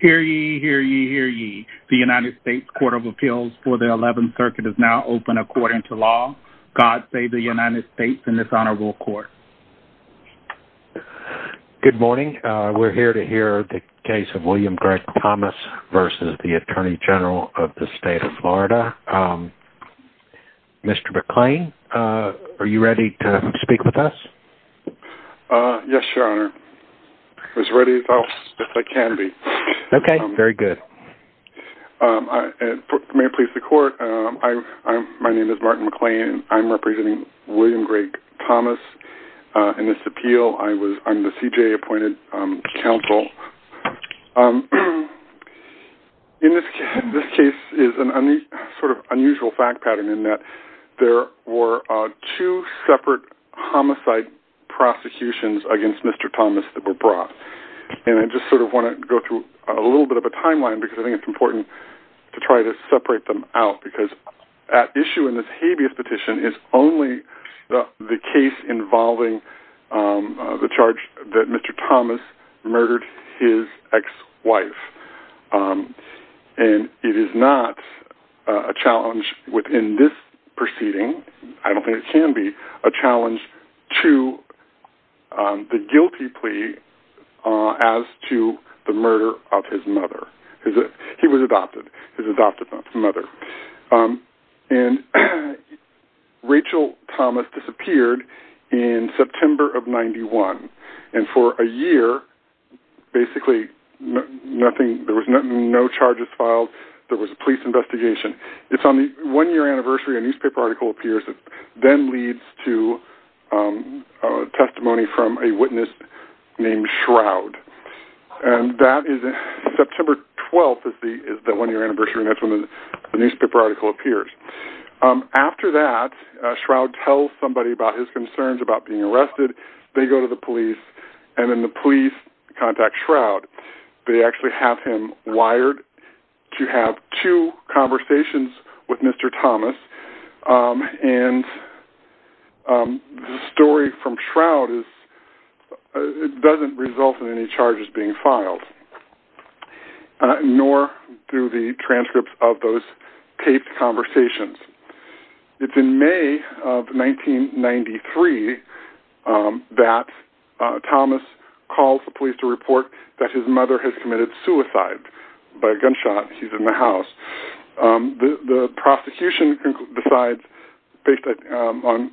Hear ye, hear ye, hear ye. The United States Court of Appeals for the 11th Circuit is now open according to law. God save the United States and this honorable court. Good morning. We're here to hear the case of William Greg Thomas v. Attorney General of the State of Florida. Mr. McClain, are you ready to Okay, very good. May I please the court? My name is Martin McClain. I'm representing William Greg Thomas in this appeal. I'm the CJA appointed counsel. This case is an unusual fact pattern in that there were two separate homicide prosecutions against Mr. Thomas that were brought and I just want to go through a little bit of a timeline because I think it's important to try to separate them out because at issue in this habeas petition is only the case involving the charge that Mr. Thomas murdered his ex-wife and it is not a challenge within this proceeding. I don't think it can be a challenge to the guilty plea as to the murder of his mother. He was adopted, his adopted mother and Rachel Thomas disappeared in September of 91 and for a year basically nothing, there was no charges filed, there was a police investigation. It's on the one-year anniversary a newspaper article appears that then leads to a testimony from a witness named Shroud and that is in September 12th is the one-year anniversary and that's when the newspaper article appears. After that, Shroud tells somebody about his concerns about being arrested. They go to the police and then the police contact Shroud. They actually have him Thomas and the story from Shroud doesn't result in any charges being filed nor do the transcripts of those taped conversations. It's in May of 1993 that Thomas calls the police to report that his mother has committed suicide by suicide. The prosecution decides, based on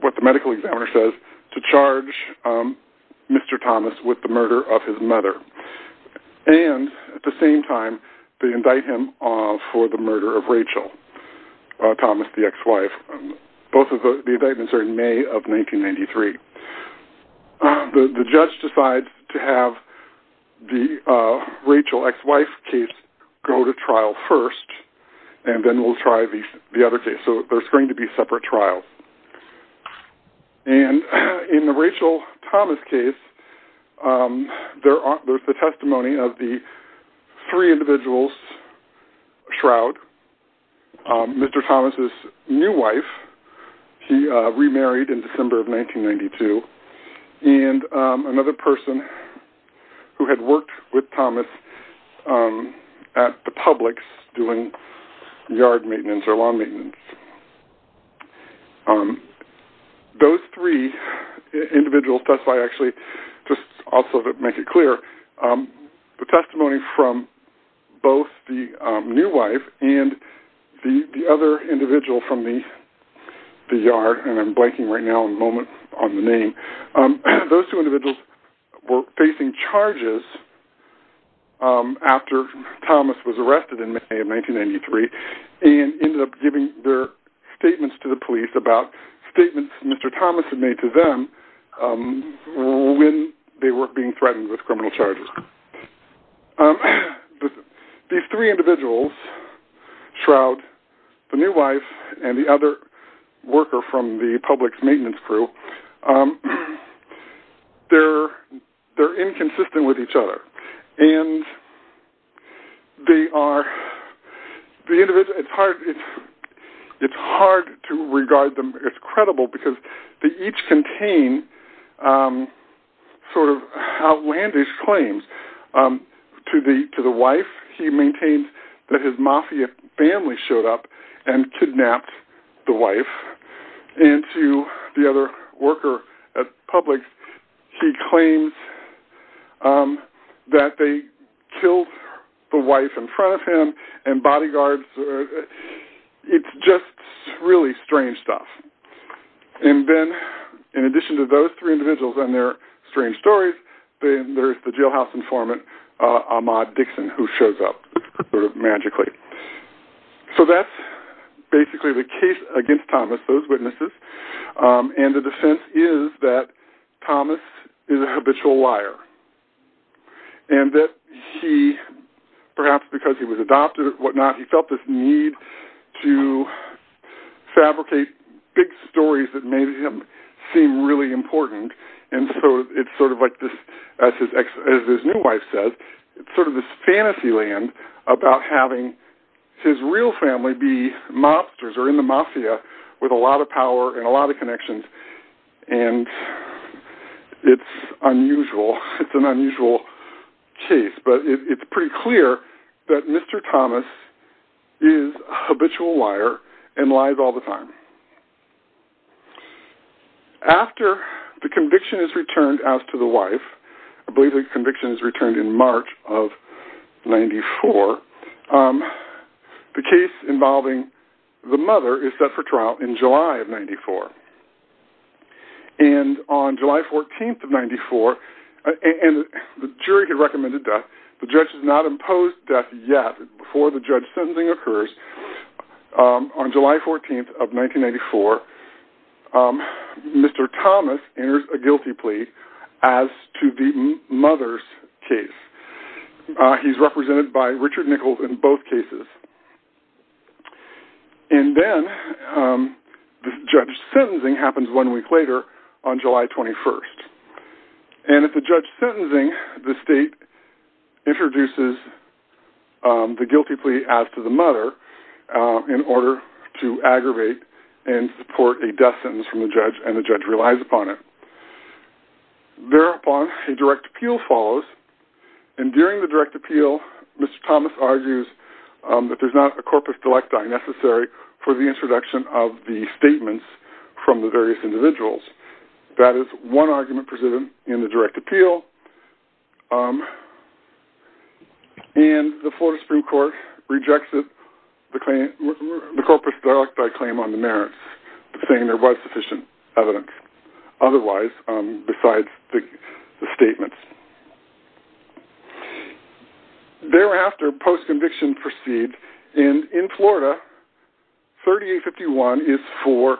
what the medical examiner says, to charge Mr. Thomas with the murder of his mother and at the same time they indict him for the murder of Rachel Thomas, the ex-wife. Both of the indictments are in May of 1993. The judge decides to have the Rachel ex-wife case go to trial first and then we'll try the other case. So there's going to be separate trials. In the Rachel Thomas case, there's the testimony of the three individuals, Shroud, Mr. Thomas's new wife, he remarried in December of 1992 and another person who had worked with Thomas at the Publix doing yard maintenance or lawn maintenance. Those three individuals testify actually, just also to make it clear, the testimony from both the new wife and the other individual from the yard, and I'm blanking right now a moment on the name, those two individuals were facing charges after Thomas was arrested in May of 1993 and ended up giving their statements to the police about statements Mr. Thomas had made to them when they were being threatened with criminal worker from the Publix maintenance crew, they're inconsistent with each other and they are, it's hard to regard them as credible because they each contain sort of outlandish claims. To the wife, he kidnapped the wife, and to the other worker at Publix, he claims that they killed the wife in front of him and bodyguards, it's just really strange stuff. And then in addition to those three individuals and their strange stories, then there's the jailhouse informant, Ahmaud Dixon, who shows up magically. So that's basically the case against Thomas, those witnesses, and the defense is that Thomas is a habitual liar, and that he, perhaps because he was adopted and whatnot, he felt this need to fabricate big stories that made him seem really important, and so it's sort of like this, as his new wife says, it's about having his real family be mobsters or in the mafia with a lot of power and a lot of connections, and it's unusual, it's an unusual case, but it's pretty clear that Mr. Thomas is a habitual liar and lies all the time. After the conviction is returned out to the wife, I believe the conviction is returned in 1994, the case involving the mother is set for trial in July of 94. And on July 14th of 94, and the jury had recommended death, the judge has not imposed death yet before the judge sentencing occurs, on July 14th of 1994, Mr. Thomas enters a trial, he's represented by Richard Nichols in both cases, and then the judge's sentencing happens one week later, on July 21st, and at the judge's sentencing, the state introduces the guilty plea as to the mother in order to aggravate and support a death sentence from the judge, and the judge relies upon it. Thereupon a direct appeal, Mr. Thomas argues that there's not a corpus delecti necessary for the introduction of the statements from the various individuals. That is one argument presented in the direct appeal, and the Florida Supreme Court rejects it, the corpus delecti claim on the merits, saying there was sufficient evidence, otherwise, besides the statements. Thereafter, post-conviction proceeds, and in Florida, 3851 is for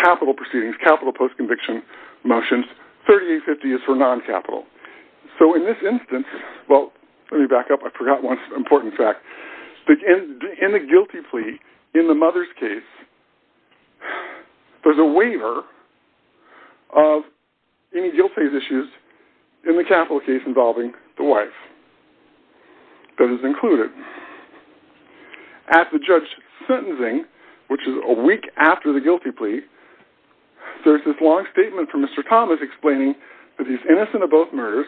capital proceedings, capital post-conviction motions, 3850 is for non-capital. So in this instance, well, let me back up, I forgot one important fact. In the guilty plea, in the mother's case, there's a waiver of any guilty issues in the capital case involving the wife. That is included. At the judge's sentencing, which is a week after the guilty plea, there's this long statement from Mr. Thomas explaining that he's innocent of both murders,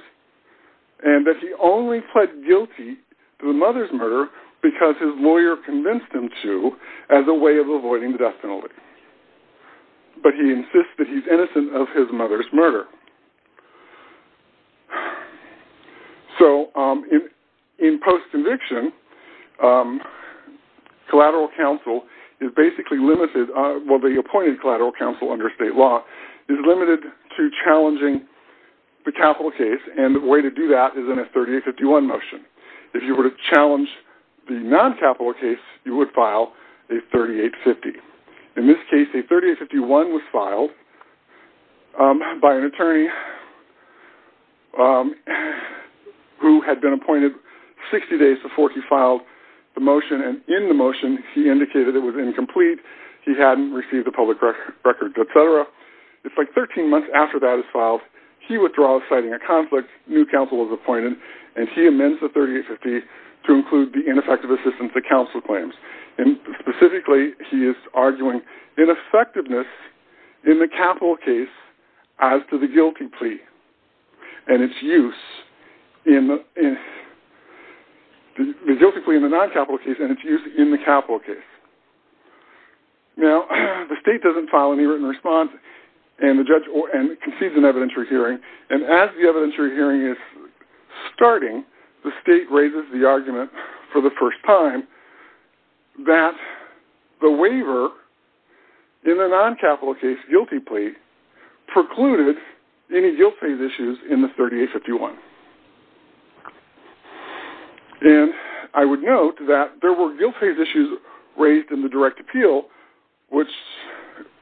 and that he only pled guilty to the mother's murder because his lawyer convinced him to, as a way of avoiding the death penalty. But he insists that he's innocent of his mother's murder. So in post-conviction, collateral counsel is basically limited, well, the appointed collateral counsel under state law, is limited to a 3851 motion. If you were to challenge the non-capital case, you would file a 3850. In this case, a 3851 was filed by an attorney who had been appointed 60 days before he filed the motion, and in the motion, he indicated it was incomplete, he hadn't received a public record, etc. It's like 13 months after that is filed, he amends the 3850 to include the ineffective assistance that counsel claims. Specifically, he is arguing ineffectiveness in the capital case as to the guilty plea and its use in the capital case. Now, the state doesn't file any written response, and the judge concedes an evidentiary hearing, and as the hearing is starting, the state raises the argument for the first time that the waiver in the non-capital case guilty plea precluded any guilt-phase issues in the 3851. And I would note that there were guilt-phase issues raised in the direct appeal, which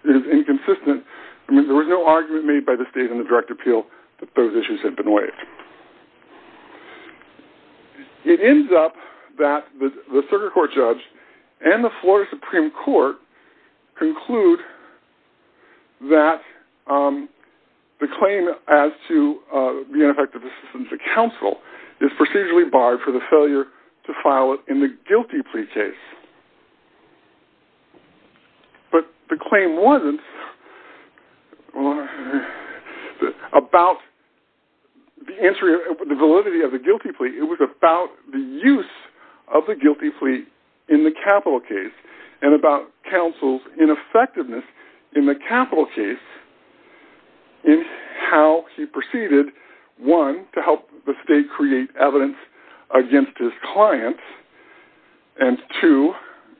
is inconsistent. There was no argument made by the state in the direct appeal that those issues had been waived. It ends up that the circuit court judge and the Florida Supreme Court conclude that the claim as to the ineffective assistance of counsel is procedurally barred for the failure to about the validity of the guilty plea. It was about the use of the guilty plea in the capital case and about counsel's ineffectiveness in the capital case in how he proceeded, one, to help the state create evidence against his client, and two,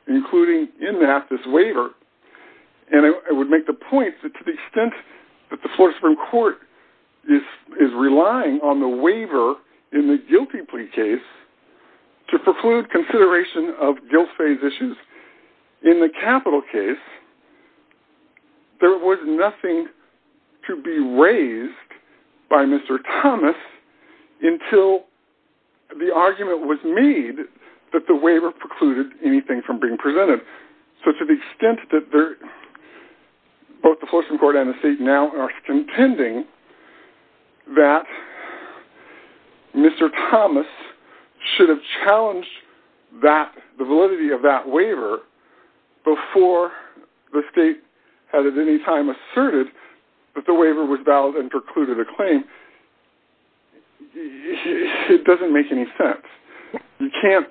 including in that this waiver. And I would make the point that to the extent that the Florida Supreme Court is relying on the waiver in the guilty plea case to preclude consideration of guilt-phase issues in the capital case, there was nothing to be raised by Mr. Thomas until the argument was made that the waiver precluded anything from being presented. So to the extent that both the Florida Supreme Court and the state now are contending that Mr. Thomas should have challenged that, the validity of that waiver, before the state had at any time asserted that the waiver was valid and precluded a claim, it doesn't make any sense. You can't...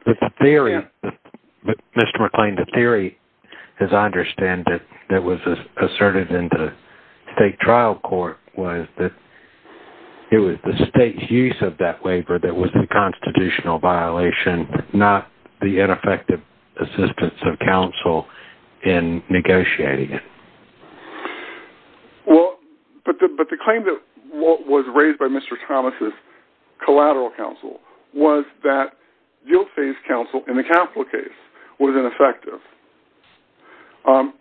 ...state trial court was that it was the state's use of that waiver that was a constitutional violation, not the ineffective assistance of counsel in negotiating it. Well, but the claim that was raised by Mr. Thomas' collateral counsel was that guilt-phase counsel in the capital case was ineffective.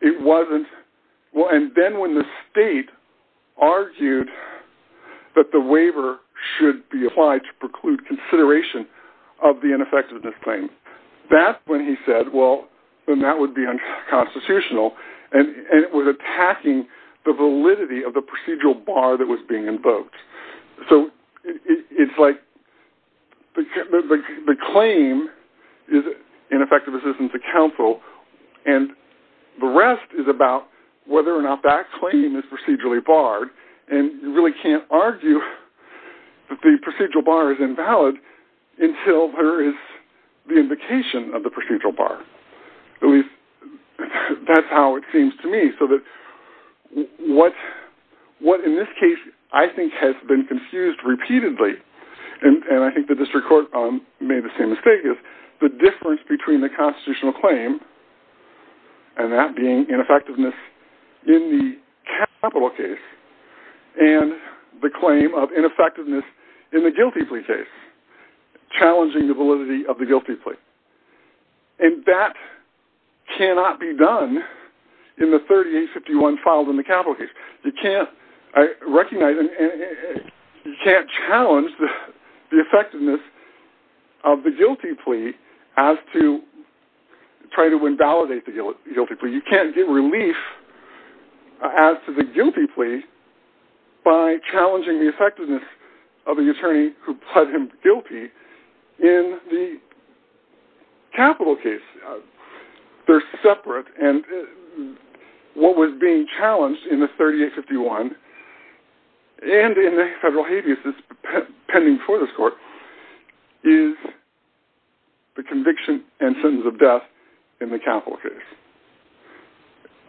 It wasn't...and then when the state argued that the waiver should be applied to preclude consideration of the ineffectiveness claim, that's when he said, well, then that would be unconstitutional, and it was attacking the validity of the procedural bar that was being invoked. So it's like the claim is ineffective assistance of counsel, and the rest is about whether or not that claim is procedurally barred, and you really can't argue that the procedural bar is invalid until there is the invocation of the procedural bar. At least, that's how it seems to me, so that what, in this case, I think has been confused repeatedly, and I think the district court made the same claim, and that being ineffectiveness in the capital case, and the claim of ineffectiveness in the guilty plea case, challenging the validity of the guilty plea. And that cannot be done in the 3851 filed in the capital case. You can't, I recognize, and you can't challenge the effectiveness of the guilty plea as to try to invalidate the guilty plea. You can't get relief as to the guilty plea by challenging the effectiveness of an attorney who pled him guilty in the capital case. They're separate, and what was being challenged in the 3851, and in the federal habeas that's pending before this court, is the conviction and sentence of death in the capital case.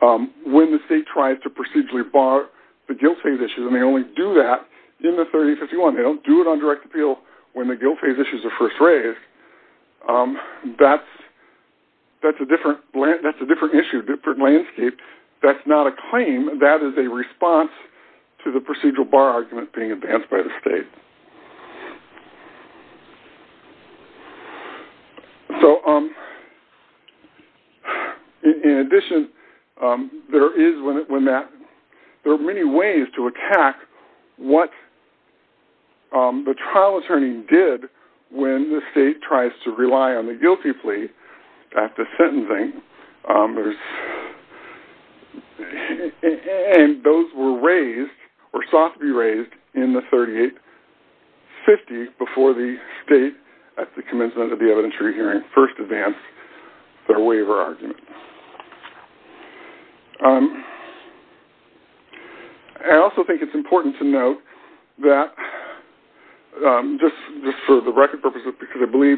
When the state tries to procedurally bar the guilt phase issues, and they only do that in the 3851, they don't do it on direct appeal when the guilt phase issues are first raised, that's a different issue, different landscape. That's not a claim, that is a response to the procedural bar argument being advanced by the state. So in addition, there are many ways to attack what the trial attorney did when the state tries to rely on the guilty plea after sentencing, and those were raised, or sought to be raised, in the 3850 before the state, at the commencement of the evidentiary hearing, first advanced their waiver argument. I also think it's important to note that, just for the record purposes, because I believe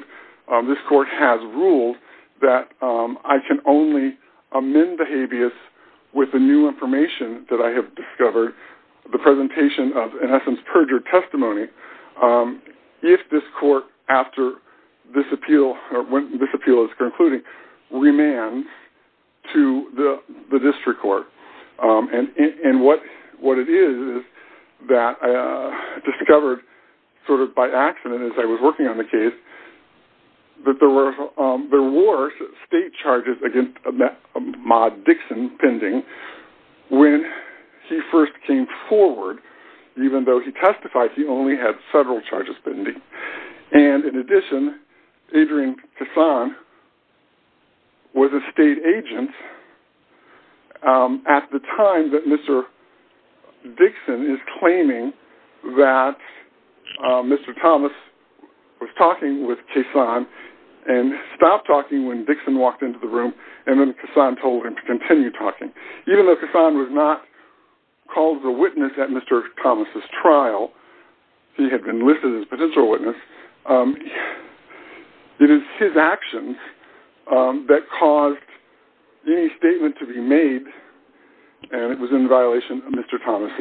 this court has ruled that I can only amend the habeas with the new information that I have discovered, the presentation of, in essence, perjured testimony, if this court, after this appeal, or when this appeal is concluding, remands to the district court. And what it is that I discovered, sort of by accident, as I was working on the case, that there were state charges against Ma Dixon pending when he first came forward, even though he testified he only had federal charges pending. And in addition, Adrian Kassan was a state agent at the time that Mr. Dixon is claiming that Mr. Thomas was talking with Kassan, and stopped talking when Dixon walked into the room, and then Kassan told him to continue talking. Even though Kassan was not called the witness at Mr. Thomas' trial, he had been listed as a potential witness, it is his actions that caused any statement to be made, and it was in violation of Mr. Thomas'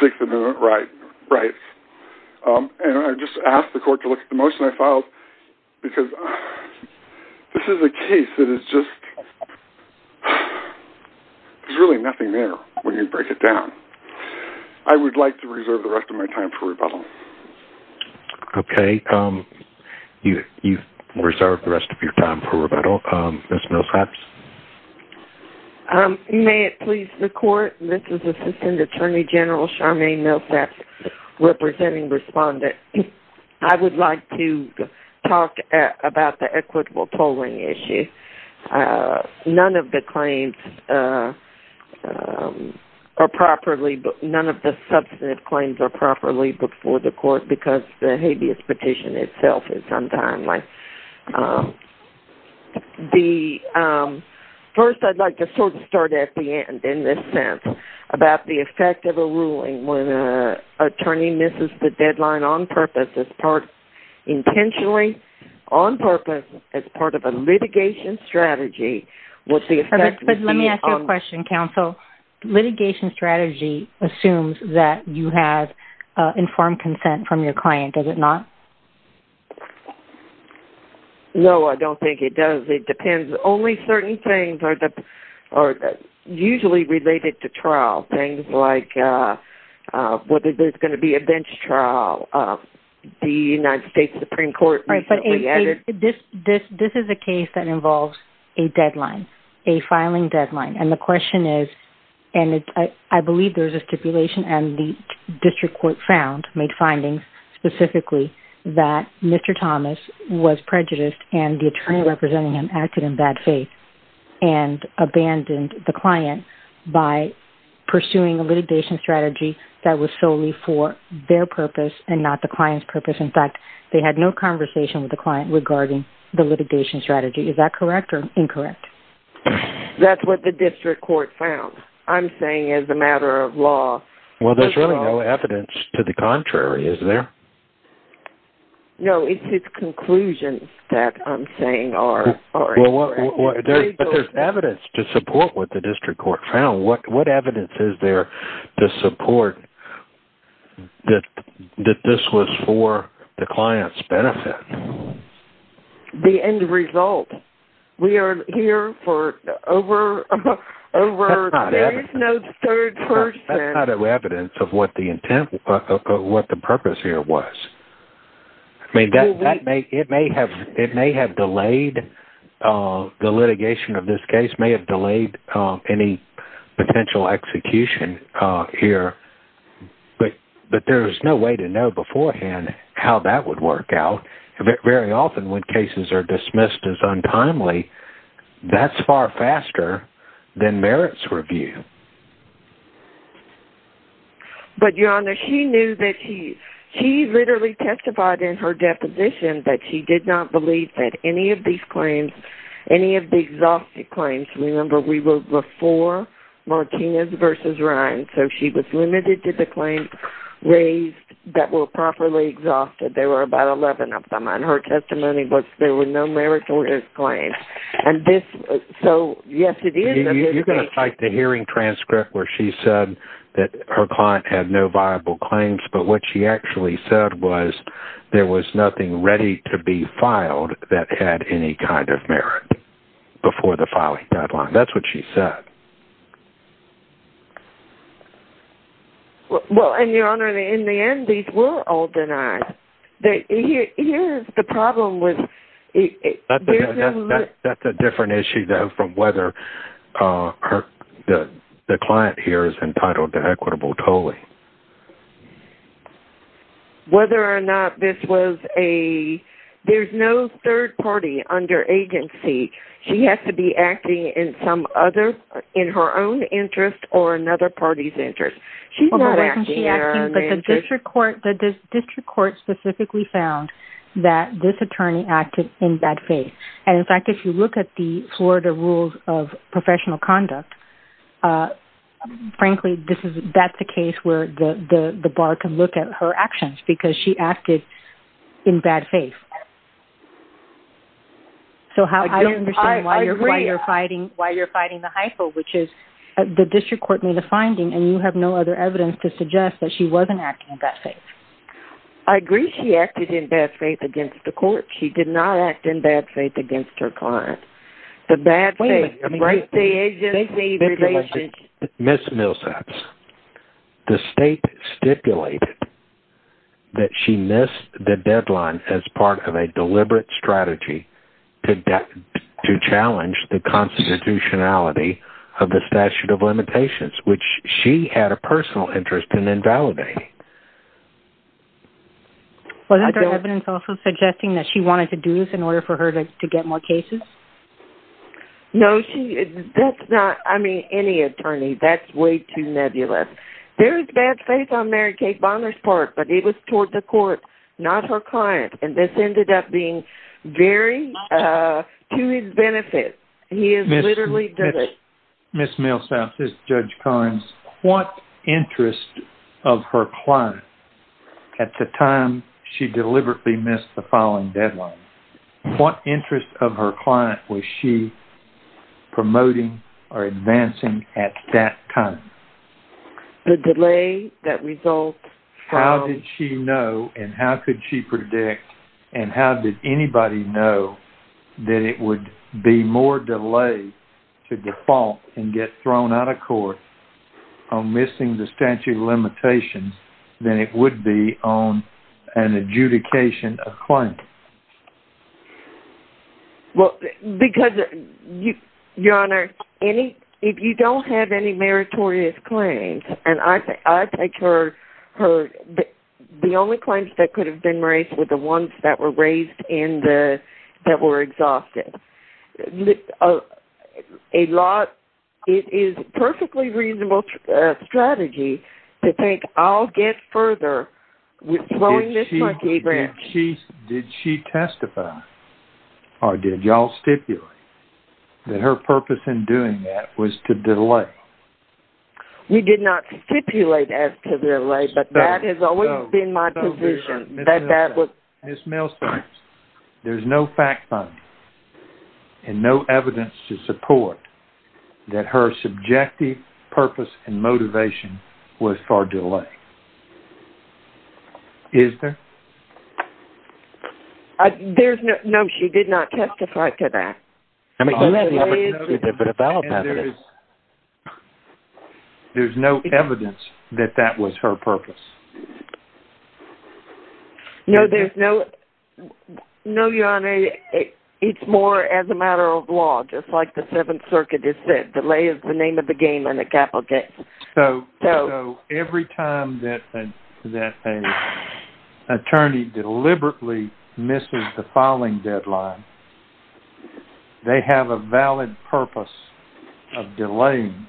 Sixth Amendment rights. And I just ask the court to look at the motion I filed, because this is a case that is just, there's really nothing there when you break it down. I would like to reserve the rest of my time for rebuttal. Okay, you've reserved the rest of your time for rebuttal. Ms. Millsaps? May it please the court, this is Assistant Attorney General Charmaine Millsaps representing respondent. I would like to talk about the equitable polling issue. None of the claims are properly, none of the substantive claims are properly before the court because the habeas petition itself is untimely. The, first I'd like to sort of start at the end in this sense, about the effect of a ruling when an attorney misses the deadline on purpose as part of a litigation strategy, what's the effect? But let me ask you a question, counsel. Litigation strategy assumes that you have informed consent from your client, does it not? No, I don't think it does. It depends. Only certain things are usually related to trial, things like whether there's going to be a bench trial. The United States Supreme Court recently This is a case that involves a deadline, a filing deadline. And the question is, and I believe there's a stipulation and the district court found, made findings specifically, that Mr. Thomas was prejudiced and the attorney representing him acted in bad faith and abandoned the client by pursuing a litigation strategy that was solely for their purpose and not client's purpose. In fact, they had no conversation with the client regarding the litigation strategy. Is that correct or incorrect? That's what the district court found, I'm saying as a matter of law. Well, there's really no evidence to the contrary, is there? No, it's conclusions that I'm saying are incorrect. But there's evidence to support what the district court found. What evidence is there to support that this was for the client's benefit? The end result. We are here for over, there is no third person. That's not evidence of what the intent, what the purpose here was. I mean, that may, it may have, it may have delayed, the litigation of this case may have delayed any potential execution here but there is no way to know beforehand how that would work out. Very often when cases are dismissed as untimely, that's far faster than merits review. But your honor, she knew that she, she literally testified in her deposition that she did not believe that any of these claims, any of the exhaustive claims, remember we were before Martinez versus Ryan, so she was limited to the claims raised that were properly exhausted. There were about 11 of them and her testimony was there were no merits or disclaims. And this, so yes it is. You're going to cite the hearing transcript where she said that her client had no viable claims but what she actually said was there was nothing ready to be filed that had any kind of merit before the filing deadline. That's what she said. Well, and your honor, in the end these were all denied. Here's the problem with... That's a different issue though from whether the client here is entitled to equitable tolling. Whether or not this was a, there's no third party under agency. She has to be acting in some other, in her own interest or another party's interest. She's not acting, but the district court, the district court specifically found that this attorney acted in bad faith. And in fact, if you look at the Florida rules of professional conduct, frankly this is, that's the case where the bar can look at her actions because she acted in bad faith. So how, I don't understand why you're fighting, why you're fighting the hypo, which is the district court made a finding and you have no other evidence to suggest that she wasn't acting in bad faith. I agree she acted in bad faith against the court. She did not act in bad faith against her client. The bad faith... Ms. Millsaps, the state stipulated that she missed the deadline as part of a deliberate strategy to challenge the constitutionality of the statute of limitations, which she had a personal interest in invalidating. Wasn't there evidence also suggesting that she wanted to do this in order for her to get more cases? No, she, that's not, I mean, any attorney, that's way too nebulous. There is bad faith on Mary Kate Bonner's part, but it was toward the court, not her client. And this ended up being very to his benefit. He is literally... Ms. Millsaps, this is Judge Collins. What interest of her client at the time she deliberately missed the following deadline, what interest of her client was she promoting or advancing at that time? The delay that results from... How did she know and how could she predict and how did anybody know that it would be more delay to default and get thrown out of court on missing the statute of limitations than it would be on an adjudication of claim? Well, because, Your Honor, if you don't have any meritorious claims, and I take her, the only claims that could have been raised were the ones that were raised in the, that were exhausted. A lot, it is perfectly reasonable strategy to think I'll get further with throwing this like a branch. Did she testify or did y'all stipulate that her purpose in doing that was to delay? We did not stipulate as to delay, but that has always been my position, that that was... Ms. Millsaps, there's no fact find and no evidence to support that her subjective purpose and motivation was for delay. Is there? There's no... No, she did not testify to that. There's no evidence that that was her purpose. No, there's no... No, Your Honor, it's more as a matter of law, just like the Seventh Circuit has said. Delay is the name of the game on a capital case. So every time that an attorney deliberately misses the filing deadline, they have a valid purpose of delaying,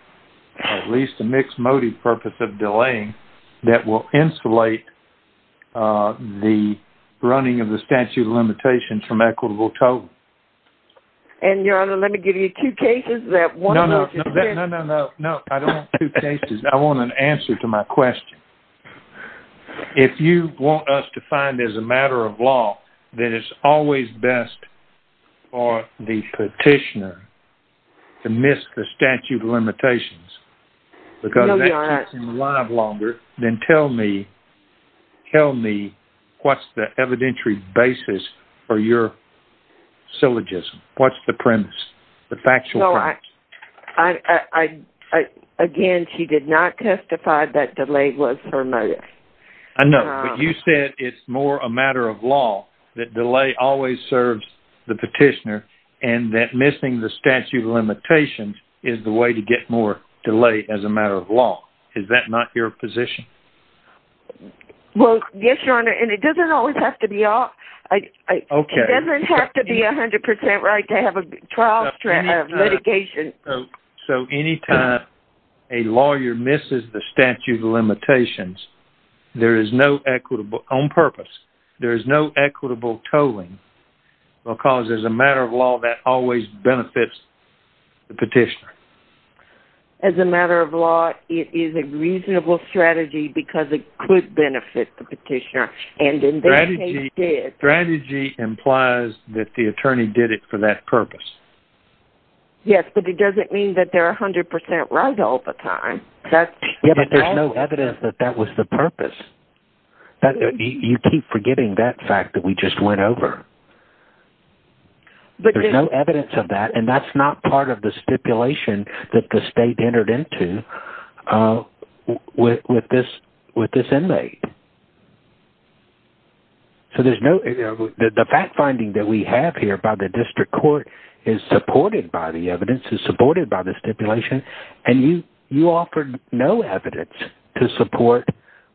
at least a mixed motive purpose of delaying, that will insulate the running of the statute of limitations from equitable total. And, Your Honor, let me give you two cases that... No, no, no, no, no, no, no. I don't want two cases. I want an answer to my question. If you want us to find as a matter of law, then it's always best for the petitioner to miss the statute of limitations. No, Your Honor. If it keeps him alive longer, then tell me what's the evidentiary basis for your syllogism. What's the premise, the factual premise? Again, she did not testify that delay was her motive. I know, but you said it's more a matter of law, that delay always serves the petitioner, and that missing the statute of limitations is the way to get more delay as a matter of law. Is that not your position? Well, yes, Your Honor, and it doesn't always have to be... Okay. It doesn't have to be 100% right to have a trial litigation. So, anytime a lawyer misses the statute of limitations, there is no equitable, on purpose, there is no equitable tolling, because as a matter of law, that always benefits the petitioner. As a matter of law, it is a reasonable strategy because it could benefit the petitioner. Strategy implies that the attorney did it for that purpose. Yes, but it doesn't mean that they're 100% right all the time. Yeah, but there's no evidence that that was the purpose. You keep forgetting that fact that we just went over. But there's no evidence of that, and that's not part of the stipulation that the state entered into with this inmate. So, there's no... The fact finding that we have here by the district court is supported by the evidence, is supported by the stipulation, and you offered no evidence to support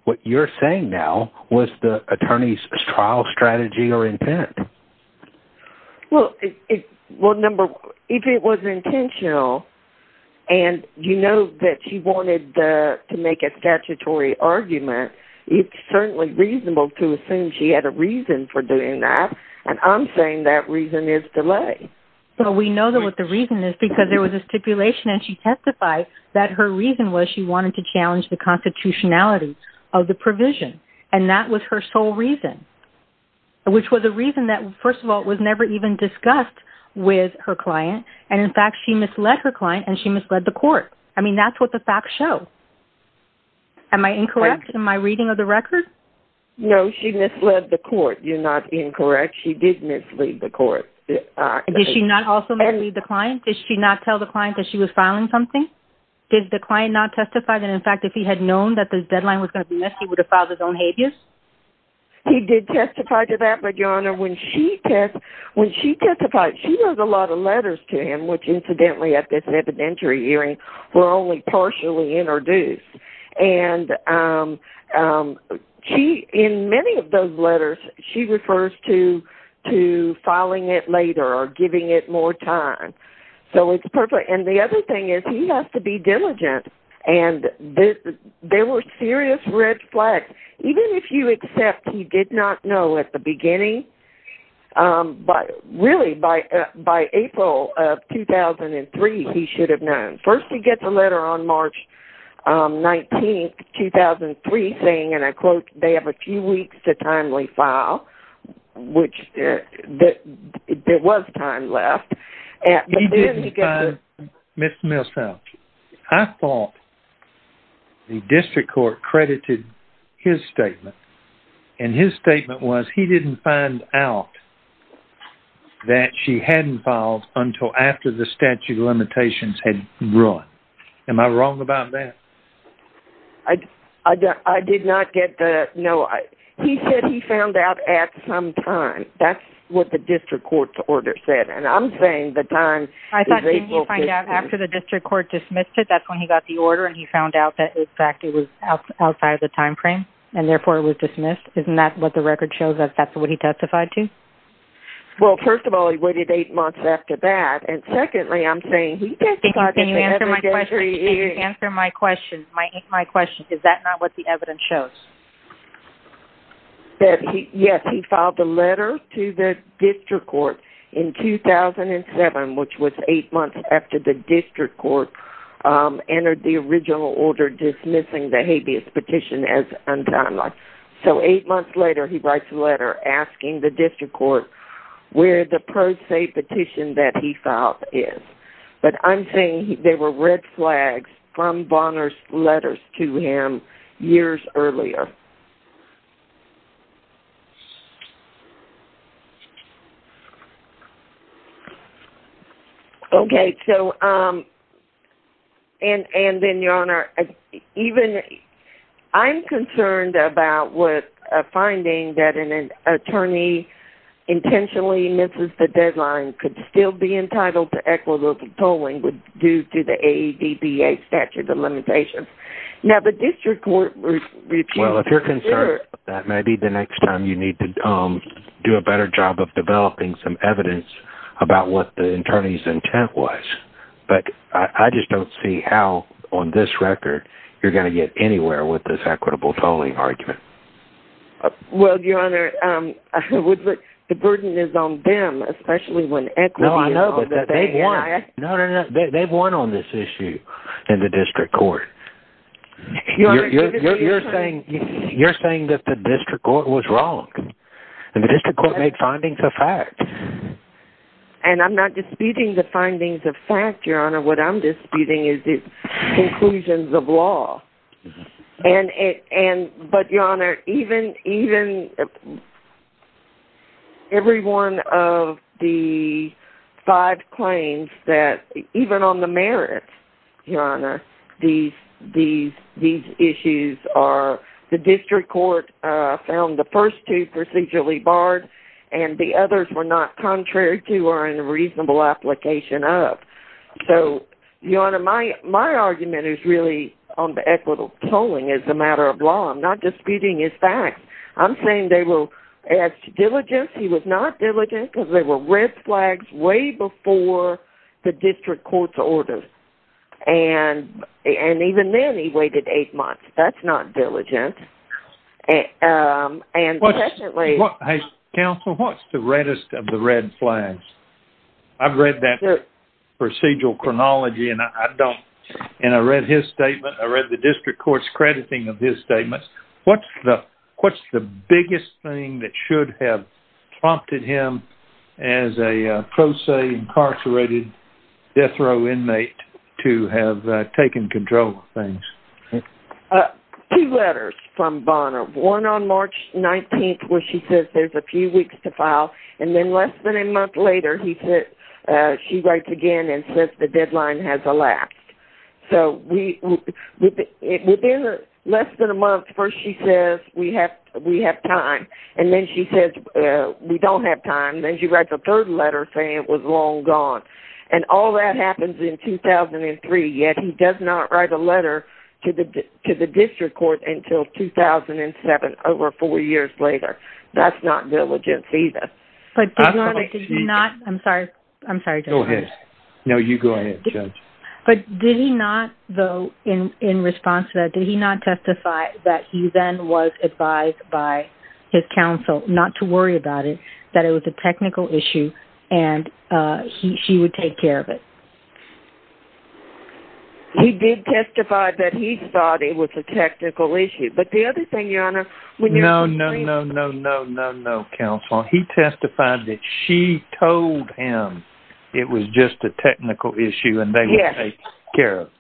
what you're saying now was the attorney's trial strategy or intent. Well, if it was intentional, and you know that she wanted to make a statutory argument, it's certainly reasonable to assume she had a reason for doing that, and I'm saying that reason is delay. So, we know that what the reason is because there was a stipulation, and she testified that her reason was she wanted to challenge the constitutionality of the provision, and that was her sole reason, which was a reason that, first of all, was never even discussed with her client, and in fact, she misled her client, and she misled the court. I mean, that's what the facts show. Am I incorrect in my reading of the record? No, she misled the court. You're not incorrect. She did mislead the court. Did she not also mislead the client? Did she not tell the client that she was filing something? Did the client not testify that, in fact, if he had known that the deadline was going to be missed, he would have filed his own habeas? He did testify to that, but, Your Honor, when she testified, she wrote a lot of letters to him, which, incidentally, at this evidentiary hearing, were only partially introduced, and in many of those letters, she refers to filing it later or giving it more time. So, it's perfect, and the other thing is he has to be diligent, and there were serious red flags. Even if you accept he did not know at the beginning, really, by April of 2003, he should have known. First, he gets a letter on March 19, 2003, saying, and I quote, they have a few weeks to timely file, which there was time left, but then he gets a- Mr. Millsfield, I thought the district court credited his statement, and his statement was he didn't find out that she hadn't filed until after the statute of limitations had run. Am I wrong about that? I did not get that. No, he said he found out at some time. That's what the district court's order said, and I'm saying the time- I thought, didn't he find out after the district court dismissed it, that's when he got the order, and he found out that, in fact, it was outside the time frame, and therefore, it was dismissed. Isn't that what the record shows us that's what he testified to? Well, first of all, he waited eight months after that, and secondly, I'm saying- Can you answer my question? Is that not what the evidence shows? That, yes, he filed a letter to the district court in 2007, which was eight months after the district court entered the original order dismissing the habeas petition as untimely, so eight months later, he writes a letter asking the district court where the pro se petition that he filed is, but I'm saying there were red flags from Bonner's letters to him years earlier. Okay, so, and then, Your Honor, even- I'm concerned about finding that an attorney intentionally misses the deadline could still be entitled to equitable tolling due to the statute of limitations. Now, the district court- Well, if you're concerned about that, maybe the next time you need to do a better job of developing some evidence about what the attorney's intent was, but I just don't see how, on this record, you're going to get anywhere with this equitable tolling argument. Well, Your Honor, the burden is on them, especially when equity- I know, but they've won. They've won on this issue in the district court. You're saying that the district court was wrong, and the district court made findings of fact. And I'm not disputing the findings of fact, Your Honor. What I'm disputing is the inclusions of law. But, Your Honor, even every one of the five claims that- even on the merits, Your Honor, these issues are- the district court found the first two procedurally barred, and the others were not contrary to or in a reasonable application of. So, Your Honor, my argument is really on the equitable tolling as a matter of law. I'm not disputing his facts. I'm saying they were- as to diligence, he was not diligent because they were red flags way before the district court's orders. And even then, he waited eight months. That's not diligent. And- Counsel, what's the reddest of the red flags? I've read that procedural chronology, and I don't- and I read his statement. I read the district court's crediting of his statements. What's the biggest thing that should have prompted him as a pro se incarcerated death row inmate to have taken control of things? Two letters from Bonner. One on March 19th where she says there's a few weeks to file, and then less than a month later, he said- she writes again and says the deadline has elapsed. So, within less than a month, first she says we have time, and then she says we don't have time, then she writes a third letter saying it was long gone. And all that happens in 2003, yet he does not write a letter to the district court until 2007, over four years later. That's not diligence either. But did not- I'm sorry. I'm sorry. Go ahead. No, you go ahead, Judge. But did he not, though, in response to that, did he not testify that he then was advised by his counsel not to worry about it, that it was a technical issue, and she would take care of it? He did testify that he thought it was a technical issue. But the other thing, Your Honor, when you're- No, no, no, no, no, no, no, counsel. He testified that she told him it was just a technical issue and they would take care of it.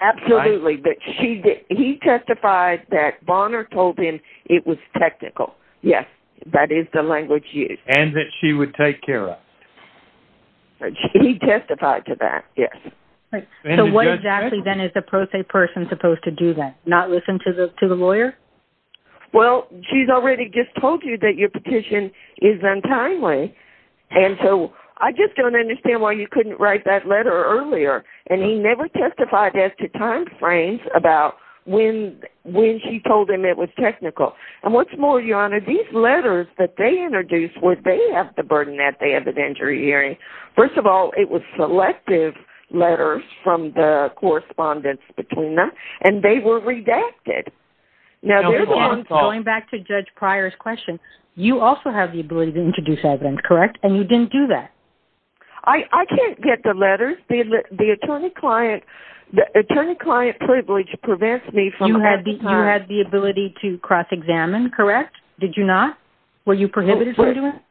Absolutely. He testified that Bonner told him it was technical. Yes, that is the language used. And that she would take care of it. He testified to that, yes. So what exactly then is a pro se person supposed to do then? Not listen to the lawyer? Well, she's already just told you that your petition is untimely. And so I just don't understand why you couldn't write that letter earlier. And he never testified as to time frames about when she told him it was technical. And what's more, Your Honor, these letters that they introduced where they have the burden that they have an injury hearing. First of all, it was selective letters from the correspondence between them and they were redacted. Now, going back to Judge Pryor's question, you also have the ability to introduce evidence, correct? And you didn't do that. I can't get the letters. The attorney client privilege prevents me from- You had the ability to cross examine, correct? Did you not? Were you prohibited from doing that?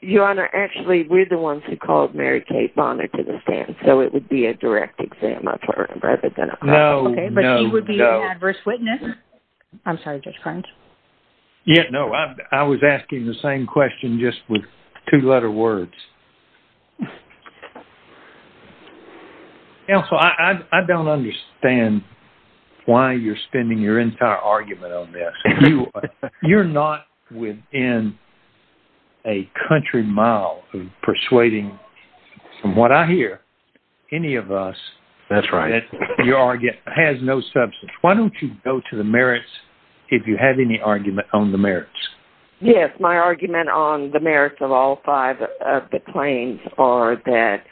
Your Honor, actually, we're the ones who called Mary Kate Bonner to the stand, so it would be a direct exam, I'm sorry, rather than a- No, no, no. Okay, but he would be an adverse witness. I'm sorry, Judge Farns. Yeah, no, I was asking the same question just with two-letter words. Yeah, so I don't understand why you're your entire argument on this. You're not within a country mile of persuading, from what I hear, any of us- That's right.... that your argument has no substance. Why don't you go to the merits if you have any argument on the merits? Yes, my argument on the merits of all the claims are that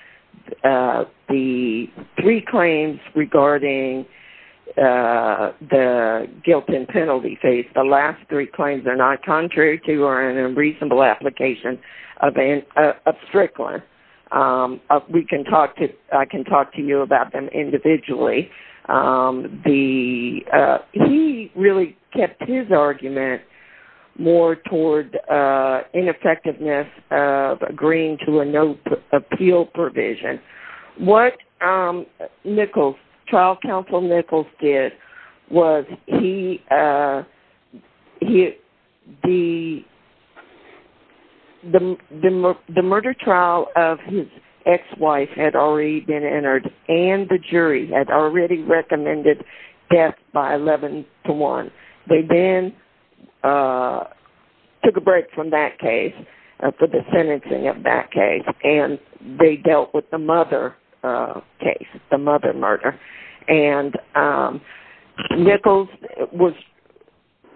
the three claims regarding the guilt and penalty phase, the last three claims, they're not contrary to or in a reasonable application of Strickler. I can talk to you about them individually. He really kept his argument more toward ineffectiveness of agreeing to a no appeal provision. What Nichols, trial counsel Nichols, did was the murder trial of his ex-wife had already been entered, and the jury had already recommended death by 11 to 1. They then took a break from that case for the sentencing of that case, and they dealt with the mother case, the mother murder.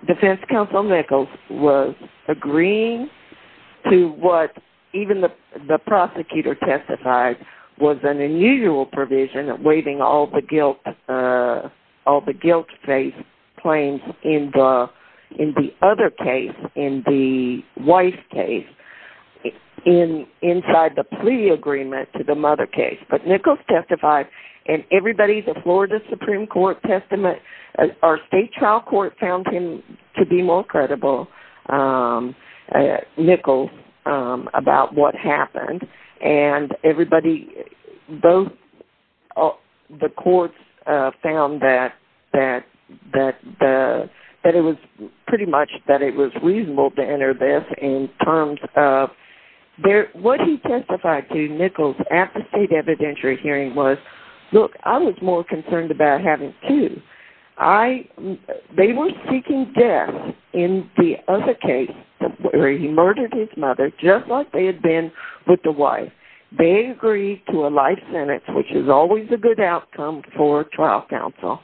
Defense counsel Nichols was agreeing to what even the prosecutor testified was an unusual provision of waiving all the guilt phase claims in the other case, in the wife case, inside the plea agreement to the mother case. Nichols testified, and everybody, the Florida Supreme Court testament, our state trial court found him to be more credible, um, Nichols, about what happened, and everybody, both the courts found that it was pretty much that it was reasonable to enter this in terms of, what he testified to Nichols at the state evidentiary hearing was, look, I was more concerned about having two. They were seeking death in the other case, where he murdered his mother, just like they had been with the wife. They agreed to a life sentence, which is always a good outcome for trial counsel,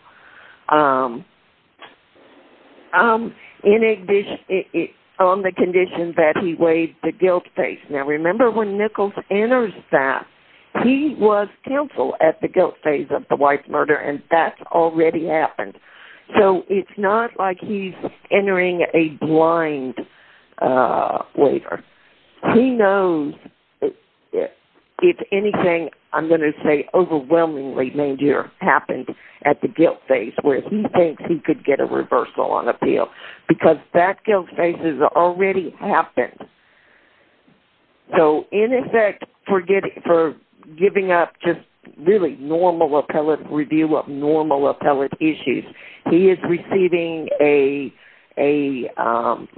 um, in addition, on the condition that he waived the guilt phase. Now, remember when Nichols enters that, he was counsel at the guilt phase of the wife murder, and that's already happened. So, it's not like he's entering a blind, uh, waiver. He knows if anything, I'm going to say overwhelmingly major happened at the guilt phase, where he thinks he could get a reversal on appeal, because that guilt phase has already happened. So, in effect, for giving up just really normal appellate issues, he is receiving a, um,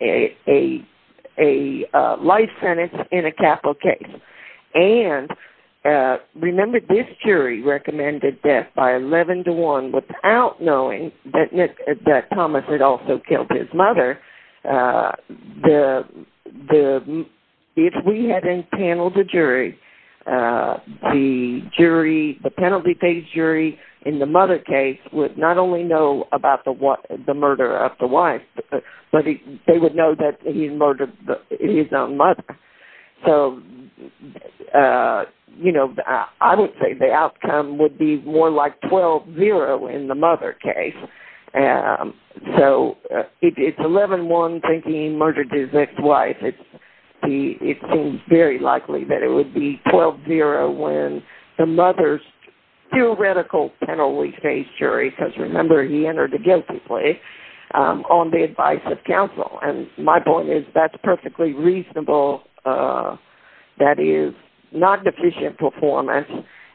a life sentence in a capital case, and, uh, remember, this jury recommended death by 11 to 1 without knowing that Thomas had also killed his mother. Uh, the, the, if we hadn't paneled the jury, uh, the jury, the penalty phase jury in the mother case would not only know about the what, the murder of the wife, but they would know that he murdered his own mother. So, uh, you know, I don't think the outcome would be more like 12-0 in the mother case. Um, so, uh, it, it's 11-1 thinking he murdered his ex-wife. It's the, it seems very likely that it would be 12-0 when the mother's theoretical penalty phase jury, because remember, he entered the guilty place, um, on the advice of counsel, and my point is that's perfectly reasonable, uh, that is not deficient performance,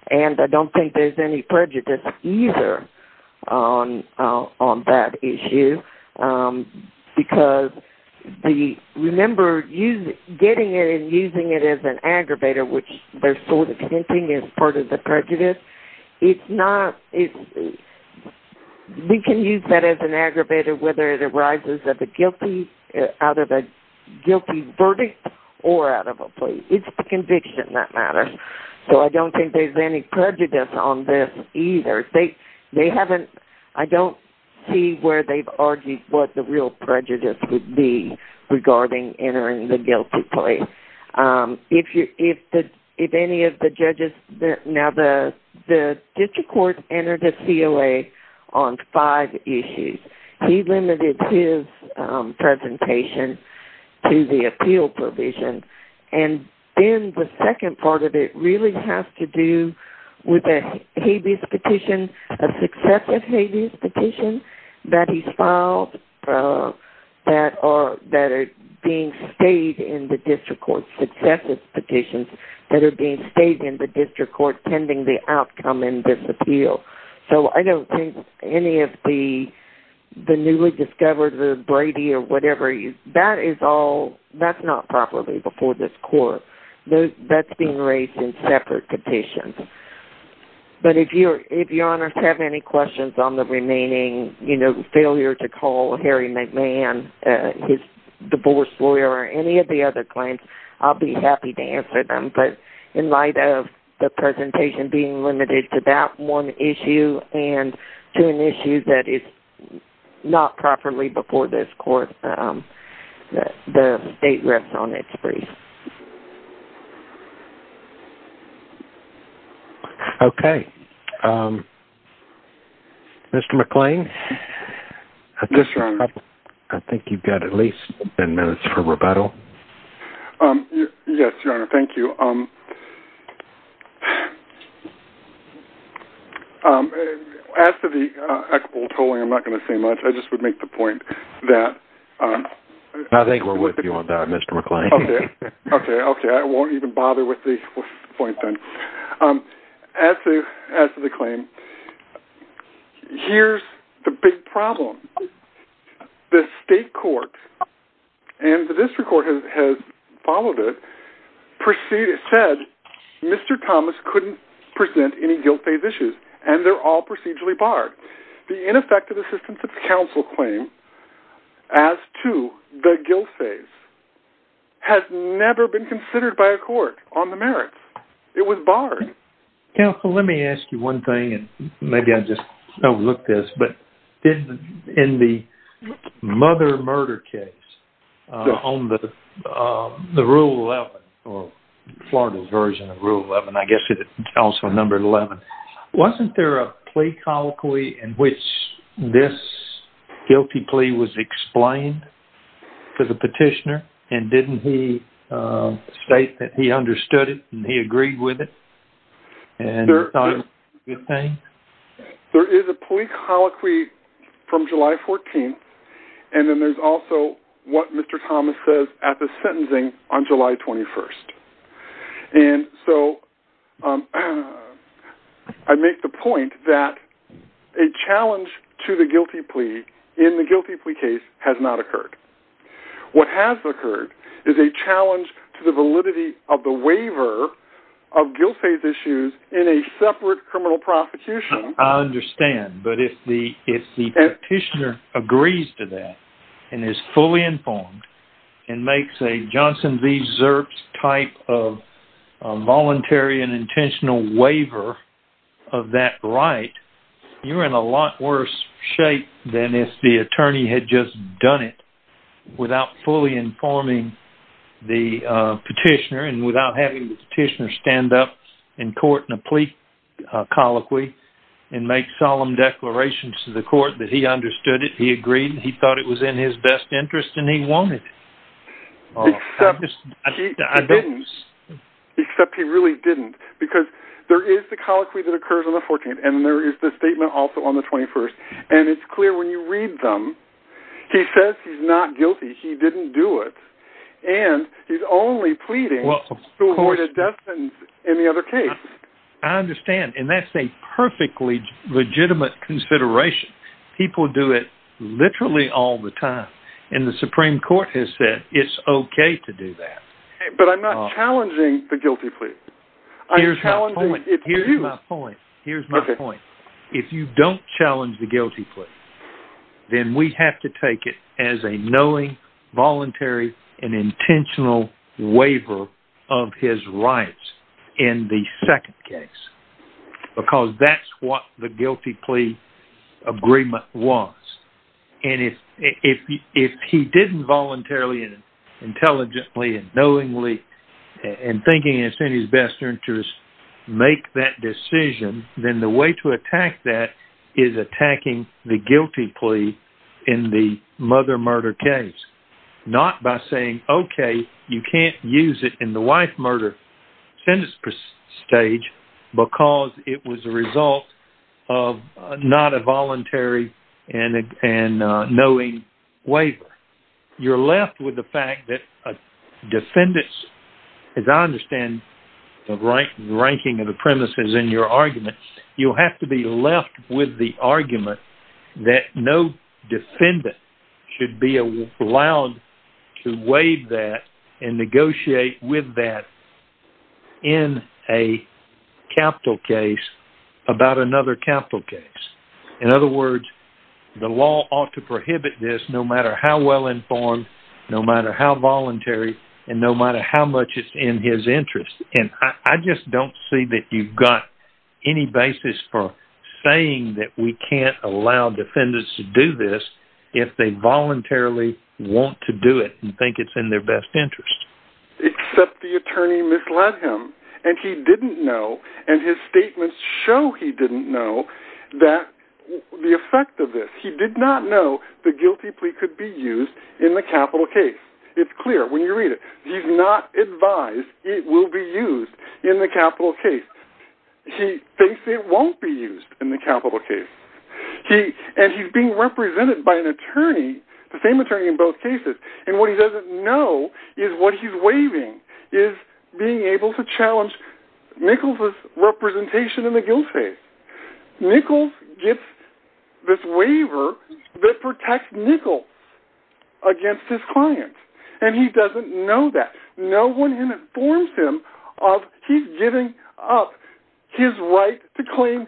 and I don't think there's any prejudice either on, uh, on that issue, um, because the, remember, you, getting it and using it as an aggravator, which they're sort of hinting is part of the prejudice. It's not, it's, we can use that as an aggravator, whether it arises of a guilty, uh, out of a guilty verdict or out of a plea. It's the conviction that matters. So, I don't think there's any prejudice on this either. They, they haven't, I don't see where they've argued what the real prejudice would be regarding entering the guilty place. Um, if you, if the, if any of the judges, now the, the district court entered a COA on five issues. He limited his, um, presentation to the appeal provision, and then the second part of it really has to do with a habeas petition, a successive habeas petition that he's filed, uh, that are, that are being stayed in the district court, successive petitions that are being stayed in the district court pending the outcome in this appeal. So, I don't think any of the, the newly discovered, the Brady or whatever you, that is all, that's not properly before this court. Those, that's being raised in separate petitions. But if you're, if your honors have any questions on the remaining, you know, failure to call Harry McMahon, uh, his divorce lawyer or any of the other claims, I'll be happy to answer them. But in light of the presentation being limited to that one issue and to an issue that is not properly before this court, um, the state rests on its brief. Okay. Um, Mr. McLean, I think you've got at least 10 minutes for rebuttal. Um, yes, your honor. Thank you. Um, um, as to the, uh, equitable tolling, I'm not going to say much. I just would make the point that, um, I think we're with you on that, Mr. McLean. Okay. Okay. Okay. I won't even bother with the point then. Um, as to, as to the claim, here's the big problem. The state court and the district court has, has followed it. Proceed. It said, Mr. Thomas couldn't present any guilt-based issues and they're all procedurally barred. The ineffective assistance of counsel claim as to the guilt phase has never been considered by a Maybe I just overlooked this, but in the mother murder case on the, um, the rule 11 or Florida's version of rule 11, I guess it also number 11. Wasn't there a plea colloquy in which this guilty plea was explained to the petitioner and didn't he, uh, state that he understood it and he agreed with it? There is a plea colloquy from July 14th. And then there's also what Mr. Thomas says at the sentencing on July 21st. And so, um, I make the point that a challenge to the guilty plea in the guilty plea case has not occurred. What has occurred is a challenge to the validity of the guilt phase issues in a separate criminal prosecution. I understand. But if the, if the petitioner agrees to that and is fully informed and makes a Johnson V Zerps type of voluntary and intentional waiver of that right, you're in a lot worse shape than if the attorney had just done it without fully informing the petitioner and without having the petitioner stand up in court and a plea colloquy and make solemn declarations to the court that he understood it. He agreed, he thought it was in his best interest and he wanted it. Except he really didn't because there is the colloquy that occurs on the 14th and there is the statement also on the 21st. And it's clear when you read them, he says he's not guilty. He didn't do it. And he's only pleading to avoid a death sentence in the other case. I understand. And that's a perfectly legitimate consideration. People do it literally all the time. And the Supreme Court has said, it's okay to do that. But I'm not challenging the guilty plea. Here's my point. Here's my point. If you don't challenge the guilty plea, then we have to take it as a knowing voluntary and waiver of his rights in the second case. Because that's what the guilty plea agreement was. And if he didn't voluntarily and intelligently and knowingly and thinking it's in his best interest, make that decision, then the way to attack that is attacking the guilty plea in the mother murder case. Not by saying, okay, you can't use it in the wife murder sentence stage because it was a result of not a voluntary and knowing waiver. You're left with the fact that defendants, as I understand the ranking of the premises in your defendant, should be allowed to waive that and negotiate with that in a capital case about another capital case. In other words, the law ought to prohibit this no matter how well informed, no matter how voluntary, and no matter how much it's in his interest. And I just don't see that you've got any basis for saying that we can't allow defendants to do this if they voluntarily want to do it and think it's in their best interest. Except the attorney misled him and he didn't know and his statements show he didn't know that the effect of this. He did not know the guilty plea could be used in the capital case. It's clear when you read it. He's not advised it will be used in the capital case. He thinks it won't be used in the capital case. And he's being represented by an attorney, the same attorney in both cases, and what he doesn't know is what he's waiving is being able to challenge Nichols' representation in the guilt case. Nichols gets this waiver that protects Nichols against his clients, and he doesn't know that. No one informs him of his giving up his right to claim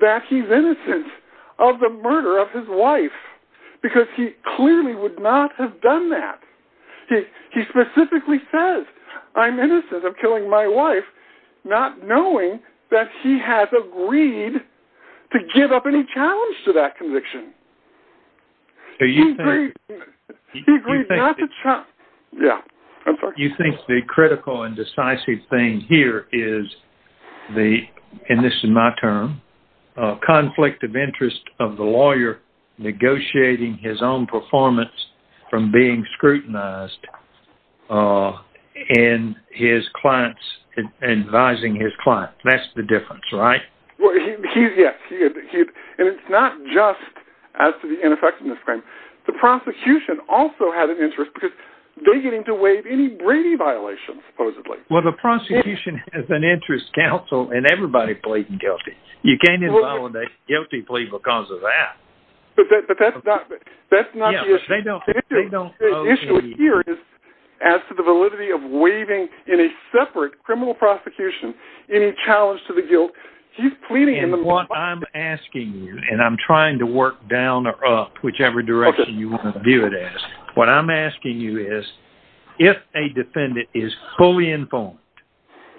that he's innocent of the murder of his wife, because he clearly would not have done that. He specifically says, I'm innocent of killing my wife, not knowing that he has agreed to give up any challenge to that conviction. You think the critical and decisive thing here is, and this is my term, conflict of interest of the lawyer negotiating his own performance from being scrutinized and advising his clients. That's the difference, right? Well, yes. And it's not just as to the ineffectiveness claim. The prosecution also had an interest, because they get him to waive any Brady violations, supposedly. Well, the prosecution has an interest counsel, and everybody pleads guilty. You can't invalidate a guilty plea because of that. But that's not the issue. The issue here is, as to the validity of waiving in a separate criminal prosecution, any challenge to the guilt, he's pleading in the- And what I'm asking you, and I'm trying to work down or up, whichever direction you want to view it as. What I'm asking you is, if a defendant is fully informed,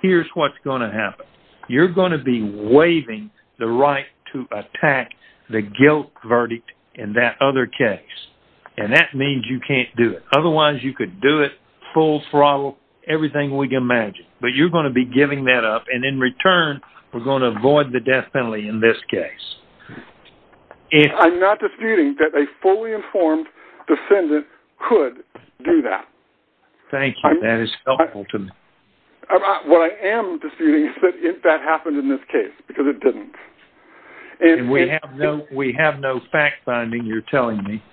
here's what's going to happen. You're going to be waiving the right to attack the guilt verdict in that other case. And that means you can't do it. Otherwise, you could do it full throttle, everything we can imagine. But you're going to be giving that up. And in return, we're going to avoid the death penalty in this case. I'm not disputing that a fully informed defendant could do that. Thank you. That is helpful to me. What I am disputing is that that happened in this case, because it didn't. We have no fact-finding, you're telling me,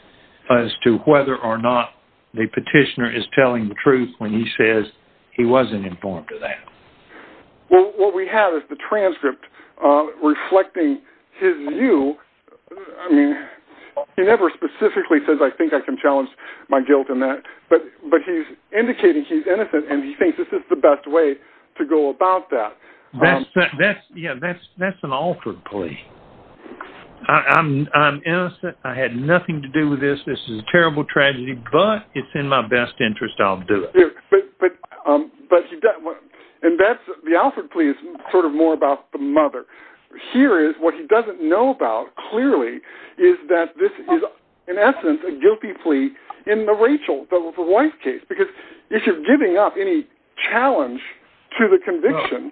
as to whether or not the petitioner is telling the truth when he says he wasn't informed of that. What we have is the transcript reflecting his view. He never specifically says, I think I can challenge my guilt in that. But he's indicating he's innocent, and he to go about that. That's an Alford plea. I'm innocent. I had nothing to do with this. This is a terrible tragedy, but it's in my best interest. I'll do it. And the Alford plea is sort of more about the mother. Here is what he doesn't know about, clearly, is that this is, in essence, a guilty plea in the Rachel, the wife case. Because you're giving up any challenge to the conviction.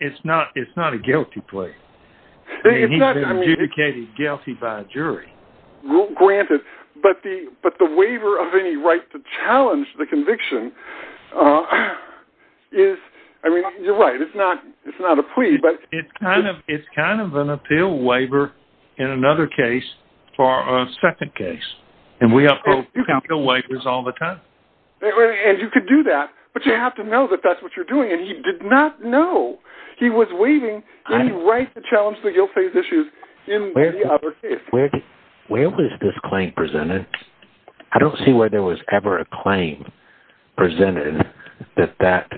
It's not a guilty plea. He's been adjudicated guilty by a jury. Granted. But the waiver of any right to challenge the conviction is, I mean, you're right, it's not a plea. It's kind of an appeal waiver in another case for a second case. And we have appeal waivers all the time. And you could do that, but you have to know that that's what you're doing. And he did not know. He was waiving any right to challenge the guilt phase issues in the other case. Where was this claim presented? I don't see where there was ever a claim presented that that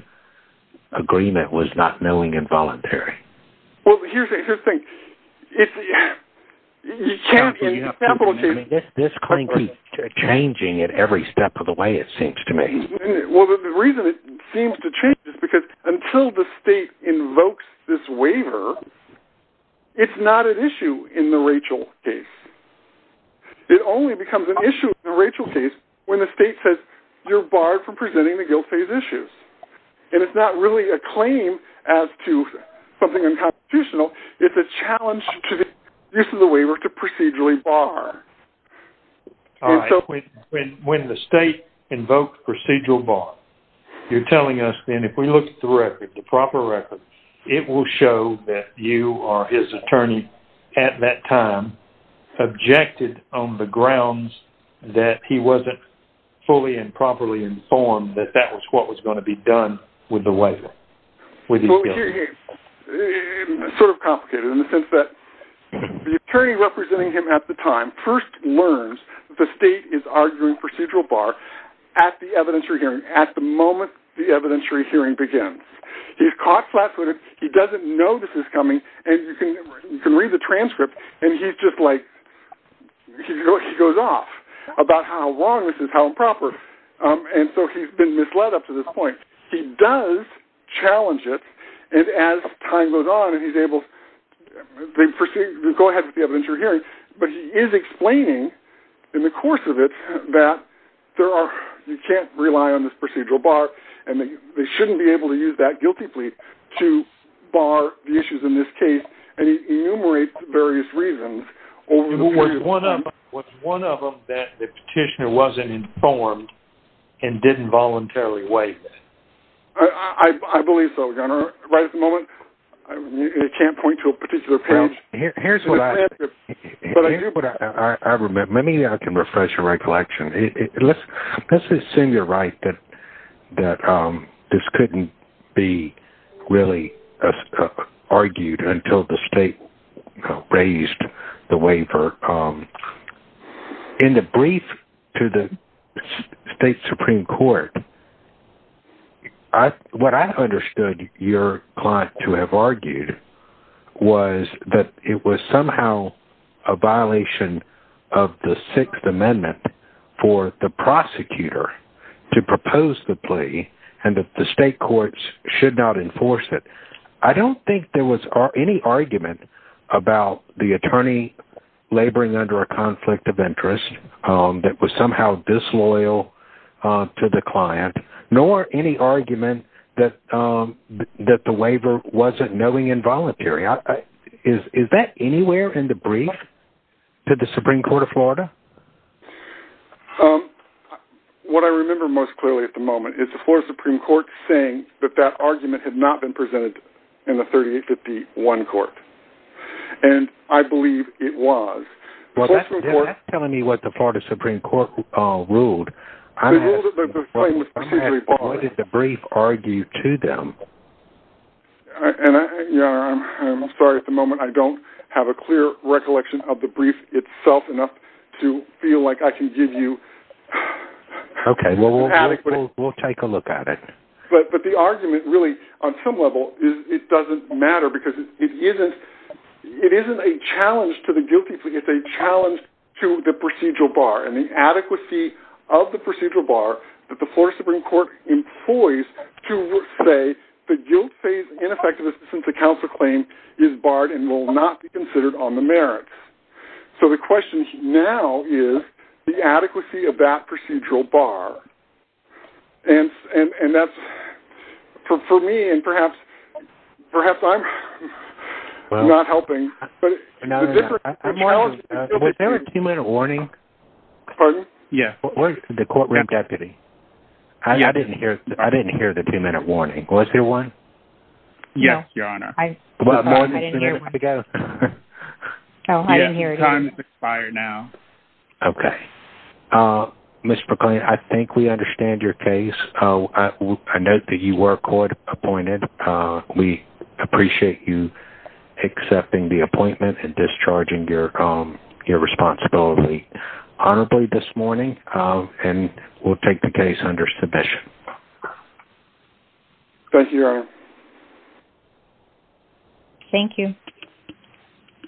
agreement was not knowing involuntary. Well, here's the thing. This claim keeps changing at every step of the way, it seems to me. Well, the reason it seems to change is because until the state invokes this waiver, it's not an issue in the Rachel case. It only becomes an issue in the Rachel case when the state says you're barred from presenting the guilt phase issues. And it's not really a claim as to something unconstitutional. It's a challenge to the use of the waiver to procedurally bar. When the state invokes procedural bar, you're telling us then if we look at the record, the proper record, it will show that you or his attorney at that time objected on the grounds that he wasn't fully and properly informed that that was what was going to be done with the waiver. Well, it's sort of complicated in the sense that the attorney representing him at the time first learns the state is arguing procedural bar at the evidentiary hearing, at the moment the evidentiary hearing begins. He's caught flat footed. He doesn't know this is coming. And you can read the transcript. And he's just like, he goes off about how long this is, and so he's been misled up to this point. He does challenge it. And as time goes on, and he's able to proceed, go ahead with the evidentiary hearing. But he is explaining in the course of it, that there are, you can't rely on this procedural bar. And they shouldn't be able to use that guilty plea to bar the issues in this case. And he enumerates various reasons. Or one of them was one of them that the petitioner wasn't informed and didn't voluntarily wait. I believe so. Right at the moment. I can't point to a particular page. Here's what I remember. Let me I can refresh your recollection. Let's let's assume you're right that that this be really argued until the state raised the waiver. In the brief to the state Supreme Court. What I understood your client to have argued was that it was somehow a violation of the Sixth should not enforce it. I don't think there was any argument about the attorney laboring under a conflict of interest that was somehow disloyal to the client, nor any argument that that the waiver wasn't knowing involuntary. Is that anywhere in the brief to the Supreme Court of Florida? Um, what I remember most clearly at the moment is the floor of Supreme Court saying that that argument had not been presented in the 3851 court. And I believe it was telling me what the Florida Supreme Court ruled. The brief argued to them. And I'm sorry, at the moment, I don't have a clear recollection of the brief itself enough to feel like I can give you. Okay, well, we'll take a look at it. But but the argument really, on some level is it doesn't matter because it isn't. It isn't a challenge to the guilty plea. It's a challenge to the procedural bar and the adequacy of the procedural bar that the floor Supreme Court employees to say that guilt phase ineffectiveness since the claim is barred and will not be considered on the merits. So the question now is the adequacy of that procedural bar. And, and that's, for me, and perhaps, perhaps I'm not helping. Was there a two minute warning? Pardon? Yeah, the courtroom deputy. I didn't hear. I didn't hear the minute warning. Was there one? Yes, Your Honor. Well, I didn't hear it. Okay. Mr. Klein, I think we understand your case. I know that you were court appointed. We appreciate you accepting the appointment and discharging your your responsibility. Honorably this morning, and we'll take the case under submission. Thank you. Thank you.